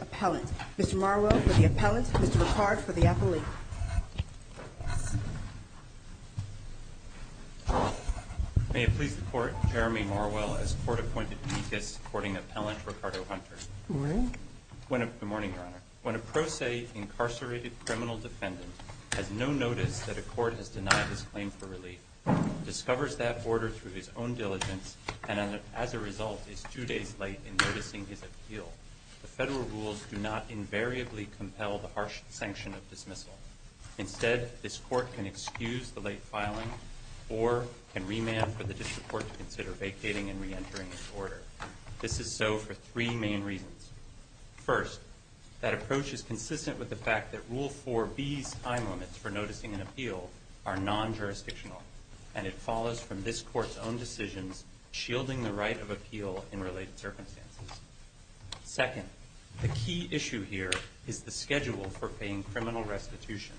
Appellant. Mr. Marwell for the Appellant, Mr. Ricard for the Appellant. May it please the Court, Jeremy Marwell as Court-appointed Deacons supporting Appellant Ricardo Hunter. Good morning. Good morning, Your Honor. When a pro se incarcerated criminal defendant has no notice that a court has denied his claim for relief, discovers that order through his own diligence, and as a result is two days late in noticing his appeal, the federal rules do not invariably compel the harsh sanction of dismissal. Instead, this Court can excuse the late filing or can remand for the district court to consider vacating and reentering his order. This is so for three main reasons. First, that approach is consistent with the fact that Rule 4B's time limits for noticing an appeal are non-jurisdictional, and it follows from this Court's own decisions shielding the right of appeal in related circumstances. Second, the key issue here is the schedule for paying criminal restitution,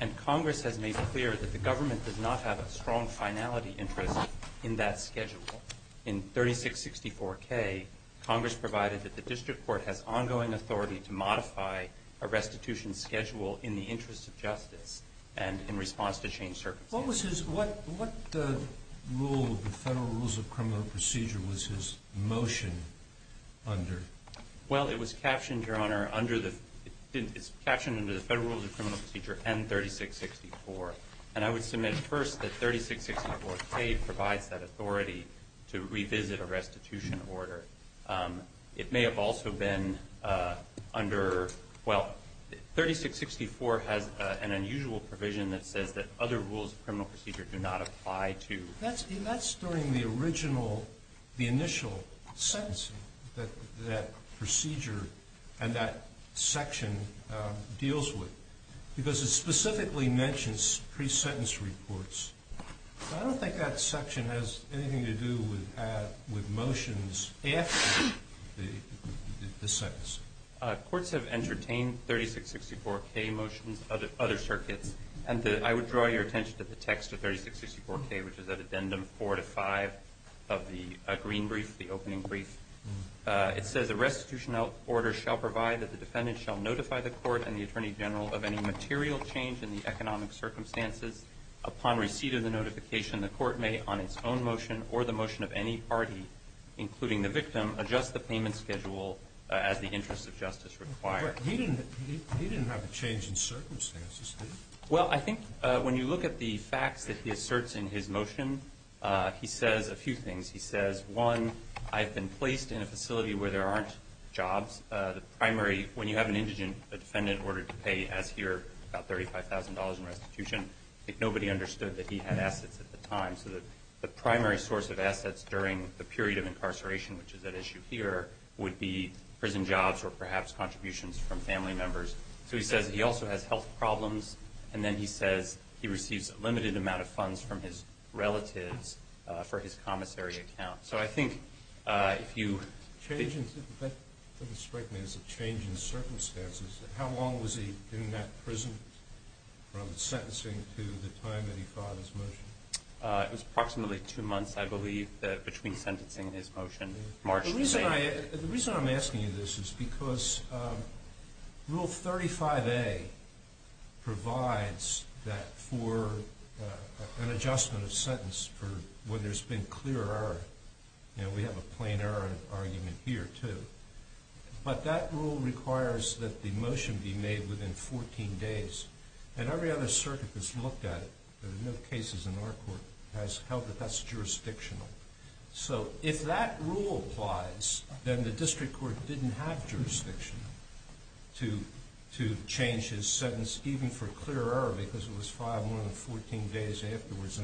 and Congress has made clear that the government does not have a strong finality interest in that schedule. In 3664K, Congress provided that the district court has ongoing authority to modify a restitution schedule in the interest of justice and in response to changed circumstances. What was his – what rule of the Federal Rules of Criminal Procedure was his motion under? Well, it was captioned, Your Honor, under the – it's captioned under the Federal Rules of Criminal Procedure and 3664, and I would submit first that 3664K provides that authority to revisit a restitution order. It may have also been under – well, 3664 has an unusual provision that says that other Rules of Criminal Procedure do not apply to – That's during the original – the initial sentencing that procedure and that section deals with, because it specifically mentions pre-sentence reports. I don't think that section has anything to do with motions after the sentence. Courts have entertained 3664K motions, other circuits, and I would draw your attention to the text of 3664K, which is at Addendum 4 to 5 of the Green Brief, the opening brief. It says, A restitution order shall provide that the defendant shall notify the court and the attorney general of any material change in the economic circumstances. Upon receipt of the notification, the court may, on its own motion or the motion of any party, including the victim, adjust the payment schedule as the interest of justice requires. He didn't have a change in circumstances, did he? Well, I think when you look at the facts that he asserts in his motion, he says a few things. He says, one, I've been placed in a facility where there aren't jobs. The primary – when you have an indigent, a defendant ordered to pay, as here, about $35,000 in restitution, I think nobody understood that he had assets at the time. So the primary source of assets during the period of incarceration, which is at issue here, would be prison jobs or perhaps contributions from family members. So he says he also has health problems. And then he says he receives a limited amount of funds from his relatives for his commissary account. So I think if you – Change in – the defendant couldn't strike me as a change in circumstances. How long was he in that prison from sentencing to the time that he filed his motion? It was approximately two months, I believe, between sentencing and his motion, March 28th. The reason I'm asking you this is because Rule 35A provides that for an adjustment of sentence for when there's been clear error. We have a plain error argument here, too. But that rule requires that the motion be made within 14 days. And every other circuit has looked at it. There are no cases in our court that has held that that's jurisdictional. So if that rule applies, then the district court didn't have jurisdiction to change his sentence, even for clear error, because it was filed more than 14 days afterwards.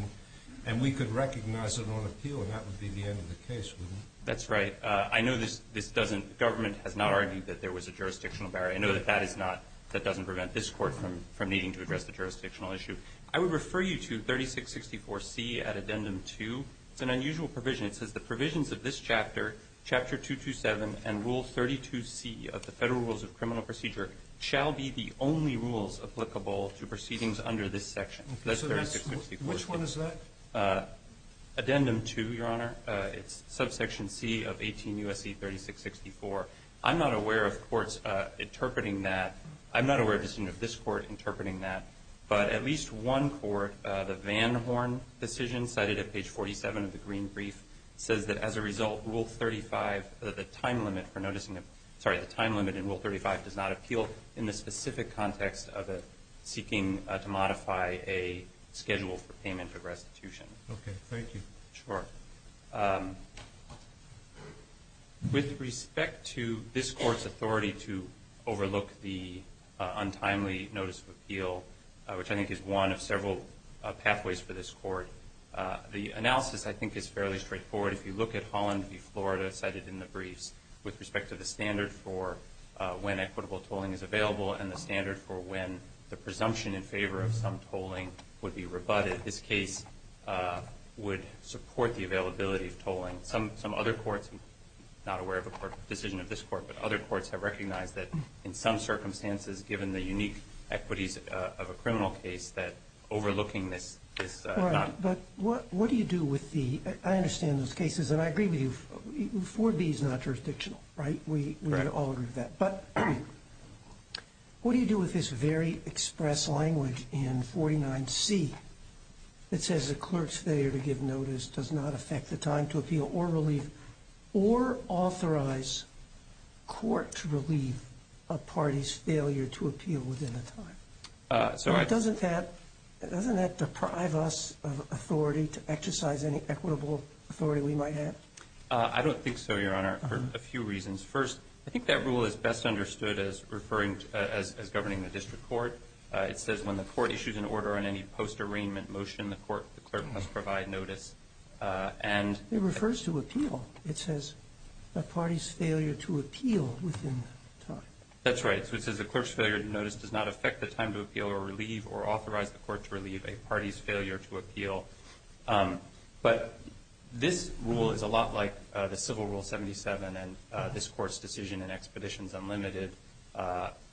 And we could recognize it on appeal, and that would be the end of the case, wouldn't it? That's right. I know this doesn't – the government has not argued that there was a jurisdictional barrier. I know that that is not – that doesn't prevent this court from needing to address the jurisdictional issue. I would refer you to 3664C at Addendum 2. It's an unusual provision. It says the provisions of this chapter, Chapter 227, and Rule 32C of the Federal Rules of Criminal Procedure shall be the only rules applicable to proceedings under this section, 3664C. Which one is that? Addendum 2, Your Honor. It's subsection C of 18 U.S.C. 3664. I'm not aware of courts interpreting that. I'm not aware of this court interpreting that. But at least one court, the Van Horn decision, cited at page 47 of the Green Brief, says that as a result, Rule 35, the time limit for noticing – sorry, the time limit in Rule 35 does not appeal in the specific context of it seeking to modify a schedule for payment of restitution. Okay. Thank you. Sure. With respect to this court's authority to overlook the untimely notice of appeal, which I think is one of several pathways for this court, the analysis, I think, is fairly straightforward. If you look at Holland v. Florida, cited in the briefs, with respect to the standard for when equitable tolling is available and the standard for when the presumption in favor of some tolling would be rebutted, this case would support the availability of tolling. Some other courts – I'm not aware of a decision of this court, but other courts have recognized that in some circumstances, given the unique equities of a criminal case, that overlooking this is not – All right. But what do you do with the – I understand those cases, and I agree with you. 4B is not jurisdictional, right? We all agree with that. But what do you do with this very express language in 49C that says the clerk's failure to give notice does not affect the time to appeal or authorize court to relieve a party's failure to appeal within a time? Doesn't that deprive us of authority to exercise any equitable authority we might have? I don't think so, Your Honor, for a few reasons. First, I think that rule is best understood as governing the district court. It says when the court issues an order on any post-arraignment motion, the clerk must provide notice. It refers to appeal. It says a party's failure to appeal within time. That's right. So it says the clerk's failure to notice does not affect the time to appeal But this rule is a lot like the Civil Rule 77, and this Court's decision in Expeditions Unlimited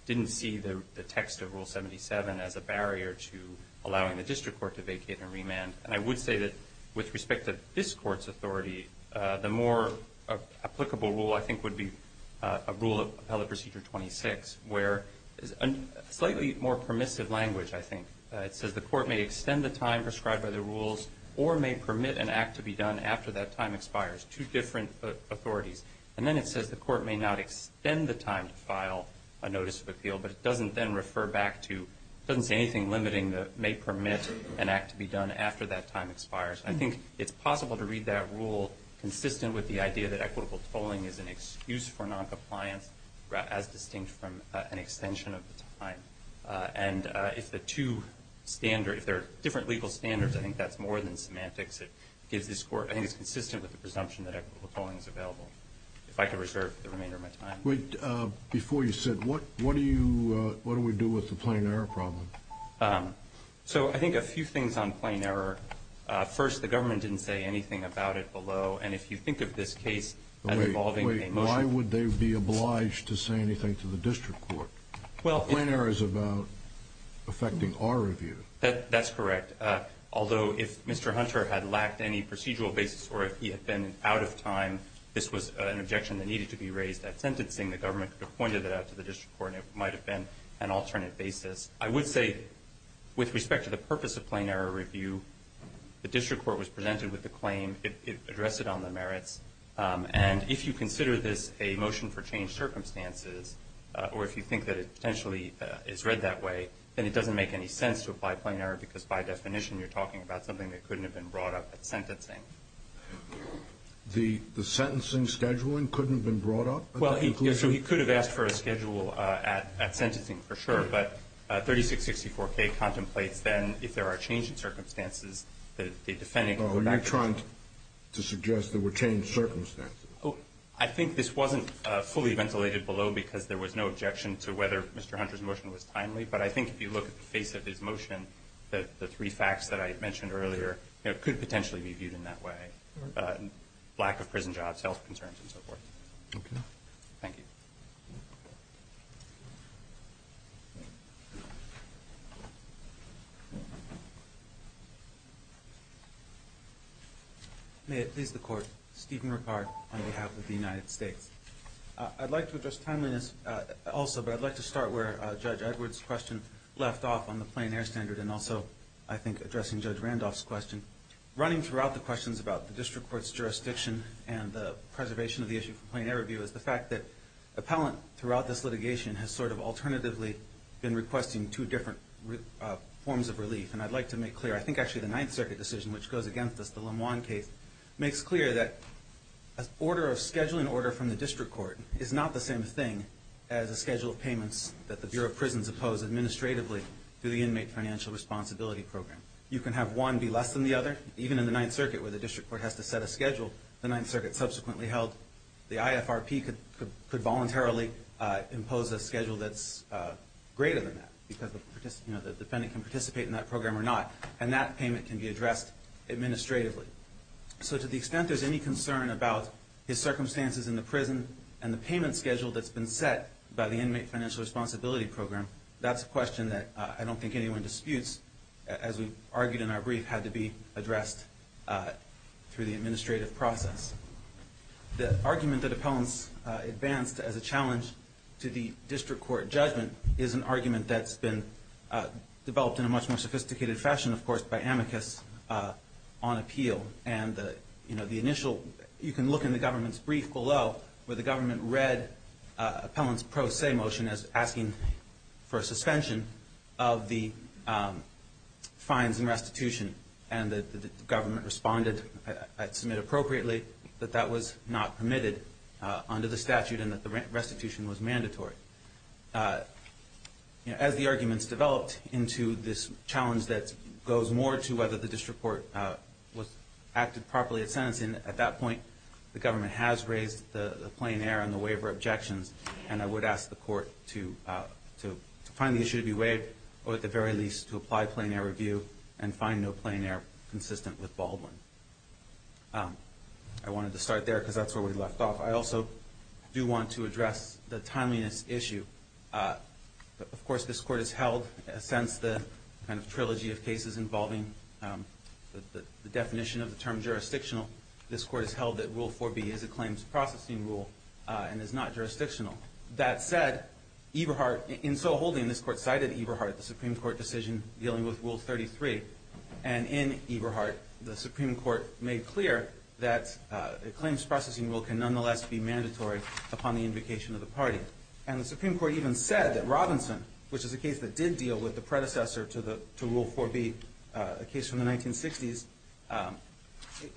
didn't see the text of Rule 77 as a barrier to allowing the district court to vacate and remand. And I would say that with respect to this Court's authority, the more applicable rule I think would be a rule of Appellate Procedure 26, where it's a slightly more permissive language, I think. It says the court may extend the time prescribed by the rules or may permit an act to be done after that time expires. Two different authorities. And then it says the court may not extend the time to file a notice of appeal, but it doesn't then refer back to anything limiting that may permit an act to be done after that time expires. I think it's possible to read that rule consistent with the idea that equitable tolling is an excuse for noncompliance, as distinct from an extension of the time. And if there are different legal standards, I think that's more than semantics. I think it's consistent with the presumption that equitable tolling is available. If I could reserve the remainder of my time. Wait. Before you sit, what do we do with the plain error problem? So I think a few things on plain error. First, the government didn't say anything about it below, and if you think of this case as involving a motion. Wait. Why would they be obliged to say anything to the district court? Well. Plain error is about affecting our review. That's correct. Although if Mr. Hunter had lacked any procedural basis or if he had been out of time, this was an objection that needed to be raised at sentencing. The government could have pointed that out to the district court and it might have been an alternate basis. I would say with respect to the purpose of plain error review, the district court was presented with the claim. It addressed it on the merits. And if you consider this a motion for changed circumstances or if you think that it potentially is read that way, then it doesn't make any sense to apply plain error because by definition you're talking about something that couldn't have been brought up at sentencing. The sentencing scheduling couldn't have been brought up? Well, yes. So he could have asked for a schedule at sentencing for sure, but 3664K contemplates then if there are changed circumstances, the defendant could go back to the district court. Oh, you're trying to suggest there were changed circumstances. I think this wasn't fully ventilated below because there was no objection to whether Mr. Hunter's motion was timely, but I think if you look at the face of his motion, the three facts that I mentioned earlier could potentially be viewed in that way. Lack of prison jobs, health concerns, and so forth. Okay. Thank you. May it please the Court, this is Stephen Ricard on behalf of the United States. I'd like to address timeliness also, but I'd like to start where Judge Edwards' question left off on the plain error standard and also I think addressing Judge Randolph's question. Running throughout the questions about the district court's jurisdiction and the preservation of the issue for plain error review is the fact that appellant throughout this litigation has sort of alternatively been requesting two different forms of relief, and I'd like to make clear, I think actually the Ninth Circuit decision, which goes against this, the Lemoine case, makes clear that a scheduling order from the district court is not the same thing as a schedule of payments that the Bureau of Prisons oppose administratively through the Inmate Financial Responsibility Program. You can have one be less than the other, even in the Ninth Circuit where the district court has to set a schedule, the Ninth Circuit subsequently held the IFRP could voluntarily impose a schedule that's greater than that because the defendant can participate in that program or not, and that payment can be addressed administratively. So to the extent there's any concern about his circumstances in the prison and the payment schedule that's been set by the Inmate Financial Responsibility Program, that's a question that I don't think anyone disputes, as we argued in our brief, had to be addressed through the administrative process. The argument that appellants advanced as a challenge to the district court judgment is an argument that's been developed in a much more sophisticated fashion, of course, by amicus on appeal. You can look in the government's brief below where the government read appellants' pro se motion as asking for a suspension of the fines and restitution, and the government responded, I'd submit appropriately, that that was not permitted under the statute and that the restitution was mandatory. But as the arguments developed into this challenge that goes more to whether the district court acted properly at sentencing, at that point the government has raised the plein air and the waiver objections, and I would ask the court to find the issue to be waived or at the very least to apply plein air review and find no plein air consistent with Baldwin. I wanted to start there because that's where we left off. I also do want to address the timeliness issue. Of course, this court has held, since the kind of trilogy of cases involving the definition of the term jurisdictional, this court has held that Rule 4B is a claims processing rule and is not jurisdictional. That said, Eberhardt, in so holding, this court cited Eberhardt, the Supreme Court decision dealing with Rule 33, and in Eberhardt, the Supreme Court made clear that a claims processing rule can nonetheless be mandatory upon the invocation of the party. And the Supreme Court even said that Robinson, which is a case that did deal with the predecessor to Rule 4B, a case from the 1960s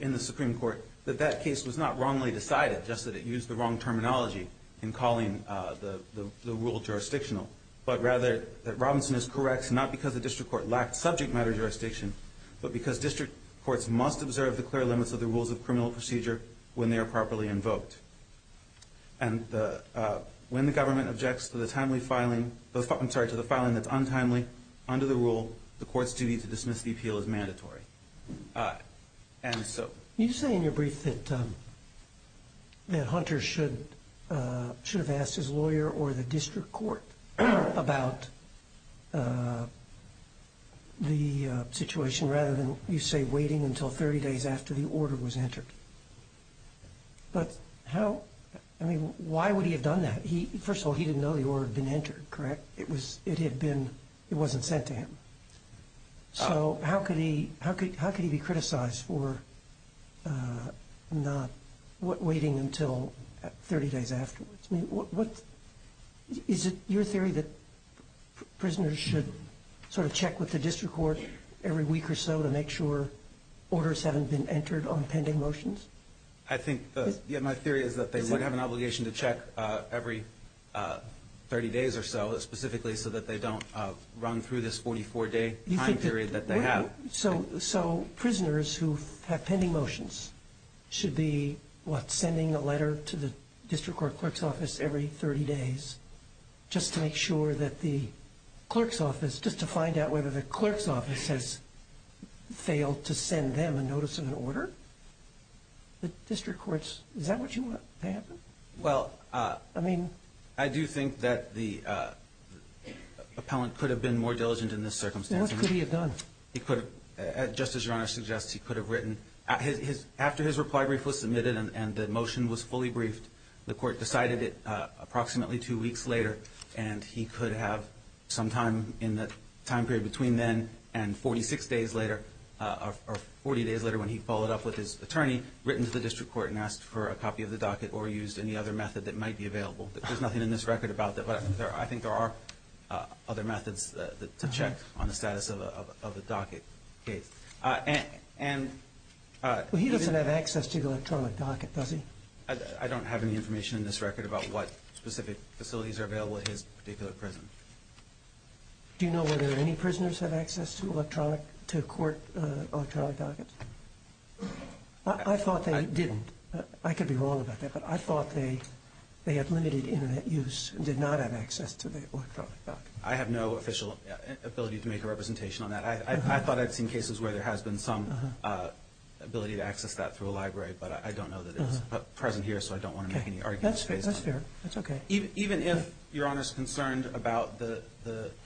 in the Supreme Court, that that case was not wrongly decided, just that it used the wrong terminology in calling the rule jurisdictional, but rather that Robinson is correct not because the district court lacked subject matter jurisdiction, but because district courts must observe the clear limits of the rules of criminal procedure when they are properly invoked. And when the government objects to the filing that's untimely under the rule, the court's duty to dismiss the appeal is mandatory. And so... You say in your brief that Hunter should have asked his lawyer or the district court about the situation rather than, you say, waiting until 30 days after the order was entered. But how, I mean, why would he have done that? First of all, he didn't know the order had been entered, correct? It had been, it wasn't sent to him. So how could he be criticized for not waiting until 30 days afterwards? I mean, is it your theory that prisoners should sort of check with the district court every week or so to make sure orders haven't been entered on pending motions? I think, yeah, my theory is that they would have an obligation to check every 30 days or so, specifically so that they don't run through this 44-day time period that they have. So prisoners who have pending motions should be, what, sending a letter to the district court clerk's office every 30 days just to make sure that the clerk's office, just to find out whether the clerk's office has failed to send them a notice of an order? The district courts, is that what you want to happen? Well, I mean, I do think that the appellant could have been more diligent in this circumstance. What could he have done? He could have, just as Your Honor suggests, he could have written. After his reply brief was submitted and the motion was fully briefed, the court decided it approximately two weeks later, and he could have sometime in the time period between then and 46 days later, or 40 days later when he followed up with his attorney, written to the district court and asked for a copy of the docket or used any other method that might be available. There's nothing in this record about that, but I think there are other methods to check on the status of a docket case. He doesn't have access to the electronic docket, does he? I don't have any information in this record about what specific facilities are available at his particular prison. Do you know whether any prisoners have access to court electronic dockets? I thought they didn't. I could be wrong about that, but I thought they had limited Internet use and did not have access to the electronic docket. I have no official ability to make a representation on that. I thought I'd seen cases where there has been some ability to access that through a library, but I don't know that it's present here, so I don't want to make any arguments based on that. That's fair. That's okay. Even if Your Honor's concerned about the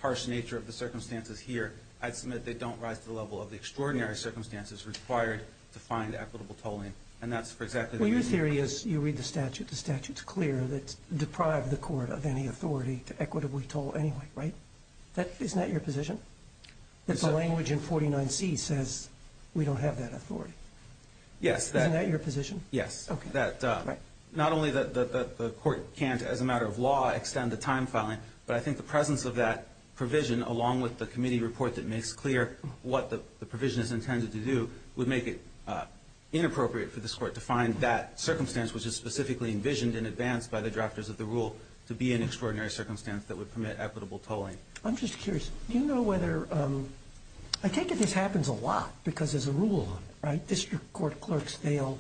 harsh nature of the circumstances here, I'd submit they don't rise to the level of the extraordinary circumstances required to find equitable tolling, and that's for exactly that reason. Well, your theory is you read the statute. The statute's clear that it's deprived the court of any authority to equitably toll anyway, right? Isn't that your position, that the language in 49C says we don't have that authority? Yes. Isn't that your position? Yes. Not only that the court can't, as a matter of law, extend the time filing, but I think the presence of that provision, along with the committee report that makes clear what the provision is intended to do, would make it inappropriate for this court to find that circumstance, which is specifically envisioned in advance by the drafters of the rule, to be an extraordinary circumstance that would permit equitable tolling. I'm just curious. Do you know whether – I take it this happens a lot because there's a rule on it, right? District court clerks fail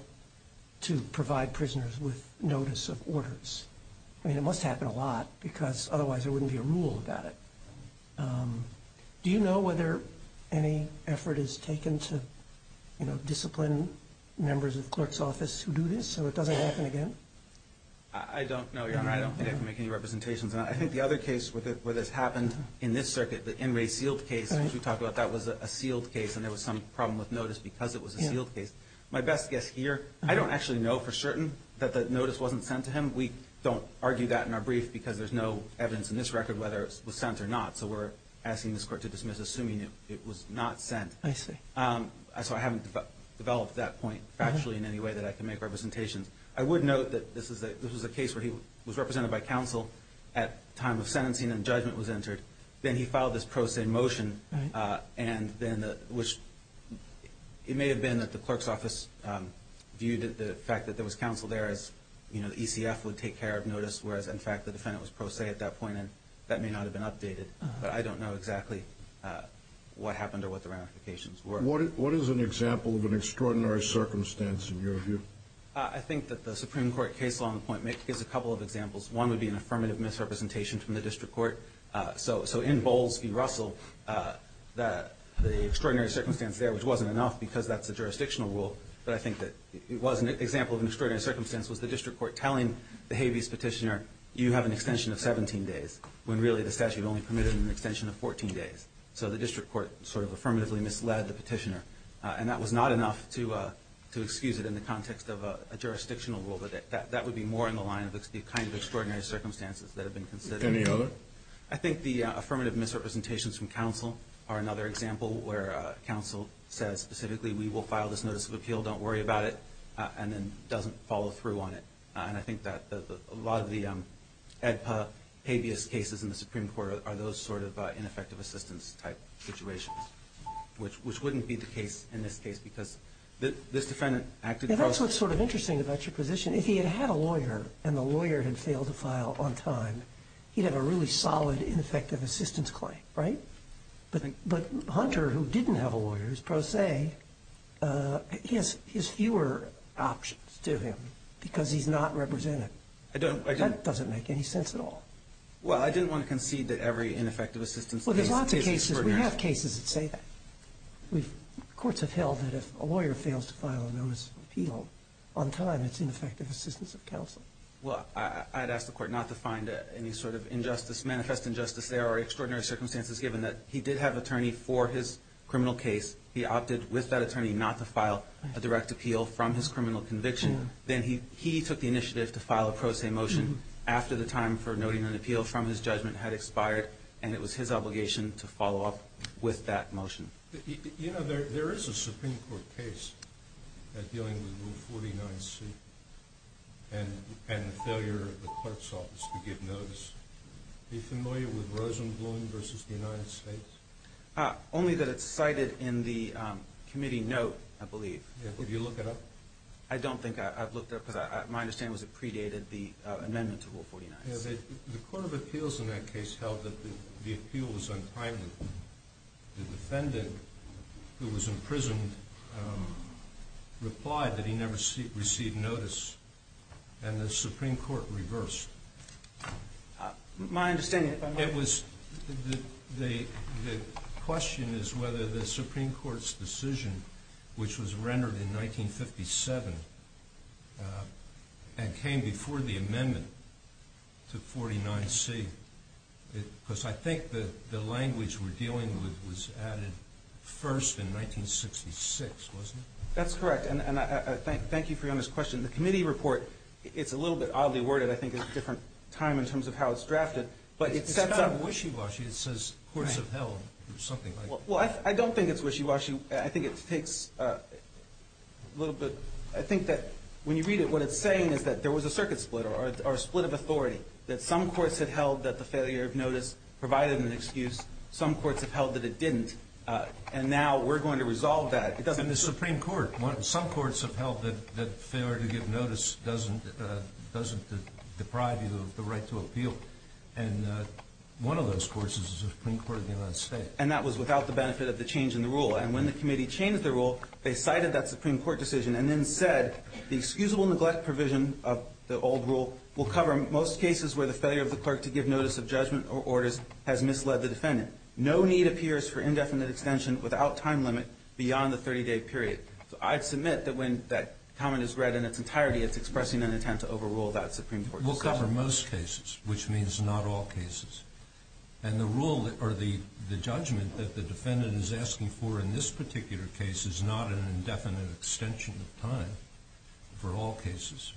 to provide prisoners with notice of orders. I mean, it must happen a lot because otherwise there wouldn't be a rule about it. Do you know whether any effort is taken to, you know, discipline members of the clerk's office who do this so it doesn't happen again? I don't know, Your Honor. I don't think I can make any representations on it. I think the other case where this happened in this circuit, the In Re Sealed case, which we talked about, that was a sealed case and there was some problem with notice because it was a sealed case. My best guess here, I don't actually know for certain that the notice wasn't sent to him. We don't argue that in our brief because there's no evidence in this record whether it was sent or not, so we're asking this court to dismiss assuming it was not sent. I see. So I haven't developed that point factually in any way that I can make representations. I would note that this was a case where he was represented by counsel at time of sentencing and judgment was entered. Then he filed this pro se motion, which it may have been that the clerk's office viewed the fact that there was counsel there as, you know, the ECF would take care of notice, whereas, in fact, the defendant was pro se at that point, and that may not have been updated. But I don't know exactly what happened or what the ramifications were. What is an example of an extraordinary circumstance in your view? I think that the Supreme Court case law on the point Mick gives a couple of examples. One would be an affirmative misrepresentation from the district court. So in Bowles v. Russell, the extraordinary circumstance there, which wasn't enough because that's a jurisdictional rule, but I think that it was an example of an extraordinary circumstance was the district court telling the habeas petitioner, you have an extension of 17 days, when really the statute only permitted an extension of 14 days. So the district court sort of affirmatively misled the petitioner, and that was not enough to excuse it in the context of a jurisdictional rule, but that would be more in the line of the kind of extraordinary circumstances that have been considered. Any other? I think the affirmative misrepresentations from counsel are another example where counsel says specifically, we will file this notice of appeal, don't worry about it, and then doesn't follow through on it. And I think that a lot of the Habeas cases in the Supreme Court are those sort of ineffective assistance type situations, which wouldn't be the case in this case because this defendant acted pro se. That's what's sort of interesting about your position. If he had had a lawyer and the lawyer had failed to file on time, he'd have a really solid, ineffective assistance claim, right? But Hunter, who didn't have a lawyer, who's pro se, he has fewer options to him because he's not represented. I don't. That doesn't make any sense at all. Well, I didn't want to concede that every ineffective assistance case is extraordinary. Well, there's lots of cases. We have cases that say that. Courts have held that if a lawyer fails to file a notice of appeal on time, it's ineffective assistance of counsel. Well, I'd ask the Court not to find any sort of injustice, manifest injustice. There are extraordinary circumstances given that he did have attorney for his criminal case. He opted with that attorney not to file a direct appeal from his criminal conviction. Then he took the initiative to file a pro se motion after the time for noting an appeal from his judgment had expired, and it was his obligation to follow up with that motion. You know, there is a Supreme Court case dealing with Rule 49C and the failure of the clerk's office to give notice. Are you familiar with Rosenblum v. the United States? Only that it's cited in the committee note, I believe. Have you looked it up? I don't think I've looked it up because my understanding was it predated the amendment to Rule 49C. The Court of Appeals in that case held that the appeal was unprimed. The defendant, who was imprisoned, replied that he never received notice, and the Supreme Court reversed. The question is whether the Supreme Court's decision, which was rendered in 1957 and came before the amendment to 49C, because I think the language we're dealing with was added first in 1966, wasn't it? That's correct, and thank you for your honest question. The committee report, it's a little bit oddly worded. I think it's a different time in terms of how it's drafted. It's not a wishy-washy. It says courts have held or something like that. Well, I don't think it's wishy-washy. I think it takes a little bit. I think that when you read it, what it's saying is that there was a circuit split or a split of authority, that some courts had held that the failure of notice provided an excuse. Some courts have held that it didn't, and now we're going to resolve that. And the Supreme Court, some courts have held that failure to give notice doesn't deprive you of the right to appeal. And one of those courts is the Supreme Court of the United States. And that was without the benefit of the change in the rule. And when the committee changed the rule, they cited that Supreme Court decision and then said the excusable neglect provision of the old rule will cover most cases where the failure of the clerk to give notice of judgment or orders has misled the defendant. No need appears for indefinite extension without time limit beyond the 30-day period. So I'd submit that when that comment is read in its entirety, it's expressing an intent to overrule that Supreme Court decision. We'll cover most cases, which means not all cases. And the rule or the judgment that the defendant is asking for in this particular case is not an indefinite extension of time for all cases.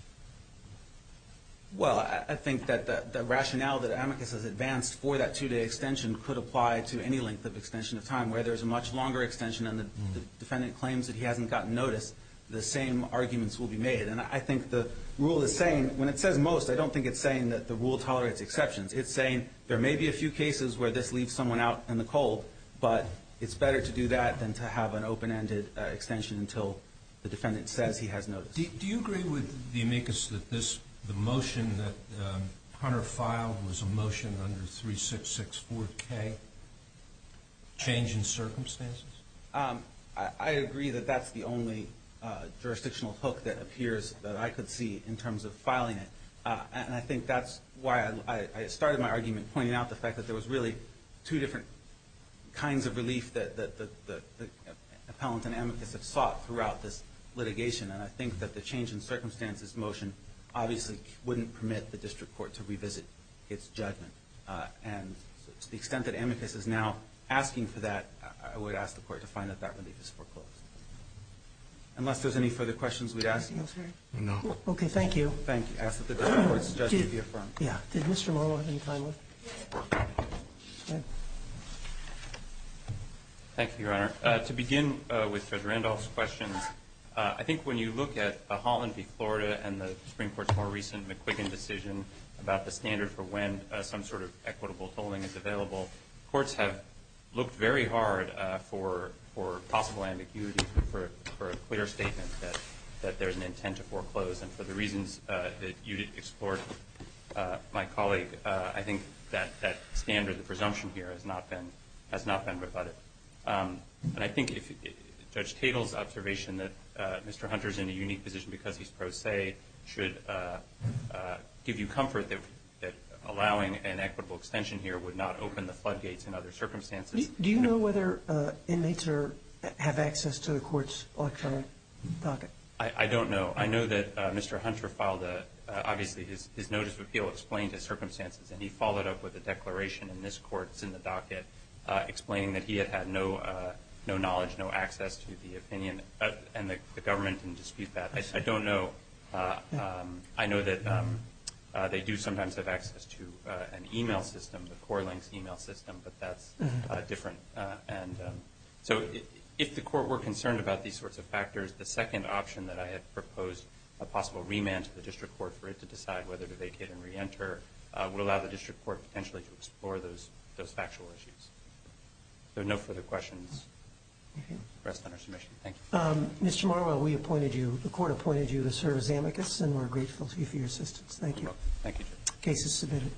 Well, I think that the rationale that amicus has advanced for that two-day extension could apply to any length of extension of time. Where there's a much longer extension and the defendant claims that he hasn't gotten notice, the same arguments will be made. And I think the rule is saying, when it says most, I don't think it's saying that the rule tolerates exceptions. It's saying there may be a few cases where this leaves someone out in the cold, but it's better to do that than to have an open-ended extension until the defendant says he has notice. Do you agree with the amicus that the motion that Hunter filed was a motion under 3664K, change in circumstances? I agree that that's the only jurisdictional hook that appears that I could see in terms of filing it. And I think that's why I started my argument pointing out the fact that there was really two different kinds of relief that the appellant and amicus have sought throughout this litigation. And I think that the change in circumstances motion obviously wouldn't permit the district court to revisit its judgment. And to the extent that amicus is now asking for that, I would ask the court to find that that relief is foreclosed. Unless there's any further questions we'd ask. Anything else, Harry? No. Okay, thank you. Thank you. I ask that the district court's judgment be affirmed. Yeah. Yes. Go ahead. Thank you, Your Honor. To begin with Judge Randolph's questions, I think when you look at Holland v. Florida and the Supreme Court's more recent McQuiggan decision about the standard for when some sort of equitable tolling is available, courts have looked very hard for possible ambiguity for a clear statement that there's an intent to foreclose. And for the reasons that you did explore, my colleague, I think that standard, the presumption here, has not been rebutted. And I think if Judge Tatel's observation that Mr. Hunter's in a unique position because he's pro se should give you comfort that allowing an equitable extension here would not open the floodgates in other circumstances. Do you know whether inmates have access to the court's electronic docket? I don't know. I know that Mr. Hunter filed a – obviously his notice of appeal explained his circumstances, and he followed up with a declaration in this court's in the docket explaining that he had had no knowledge, no access to the opinion, and the government can dispute that. I don't know. I know that they do sometimes have access to an e-mail system, the CoreLink's e-mail system, but that's different. So if the court were concerned about these sorts of factors, the second option that I had proposed, a possible remand to the district court for it to decide whether to vacate and reenter, would allow the district court potentially to explore those factual issues. If there are no further questions, we'll rest on our submission. Thank you. Mr. Marwell, we appointed you. The court appointed you to serve as amicus, and we're grateful to you for your assistance. Thank you. Thank you, Judge. The case is submitted.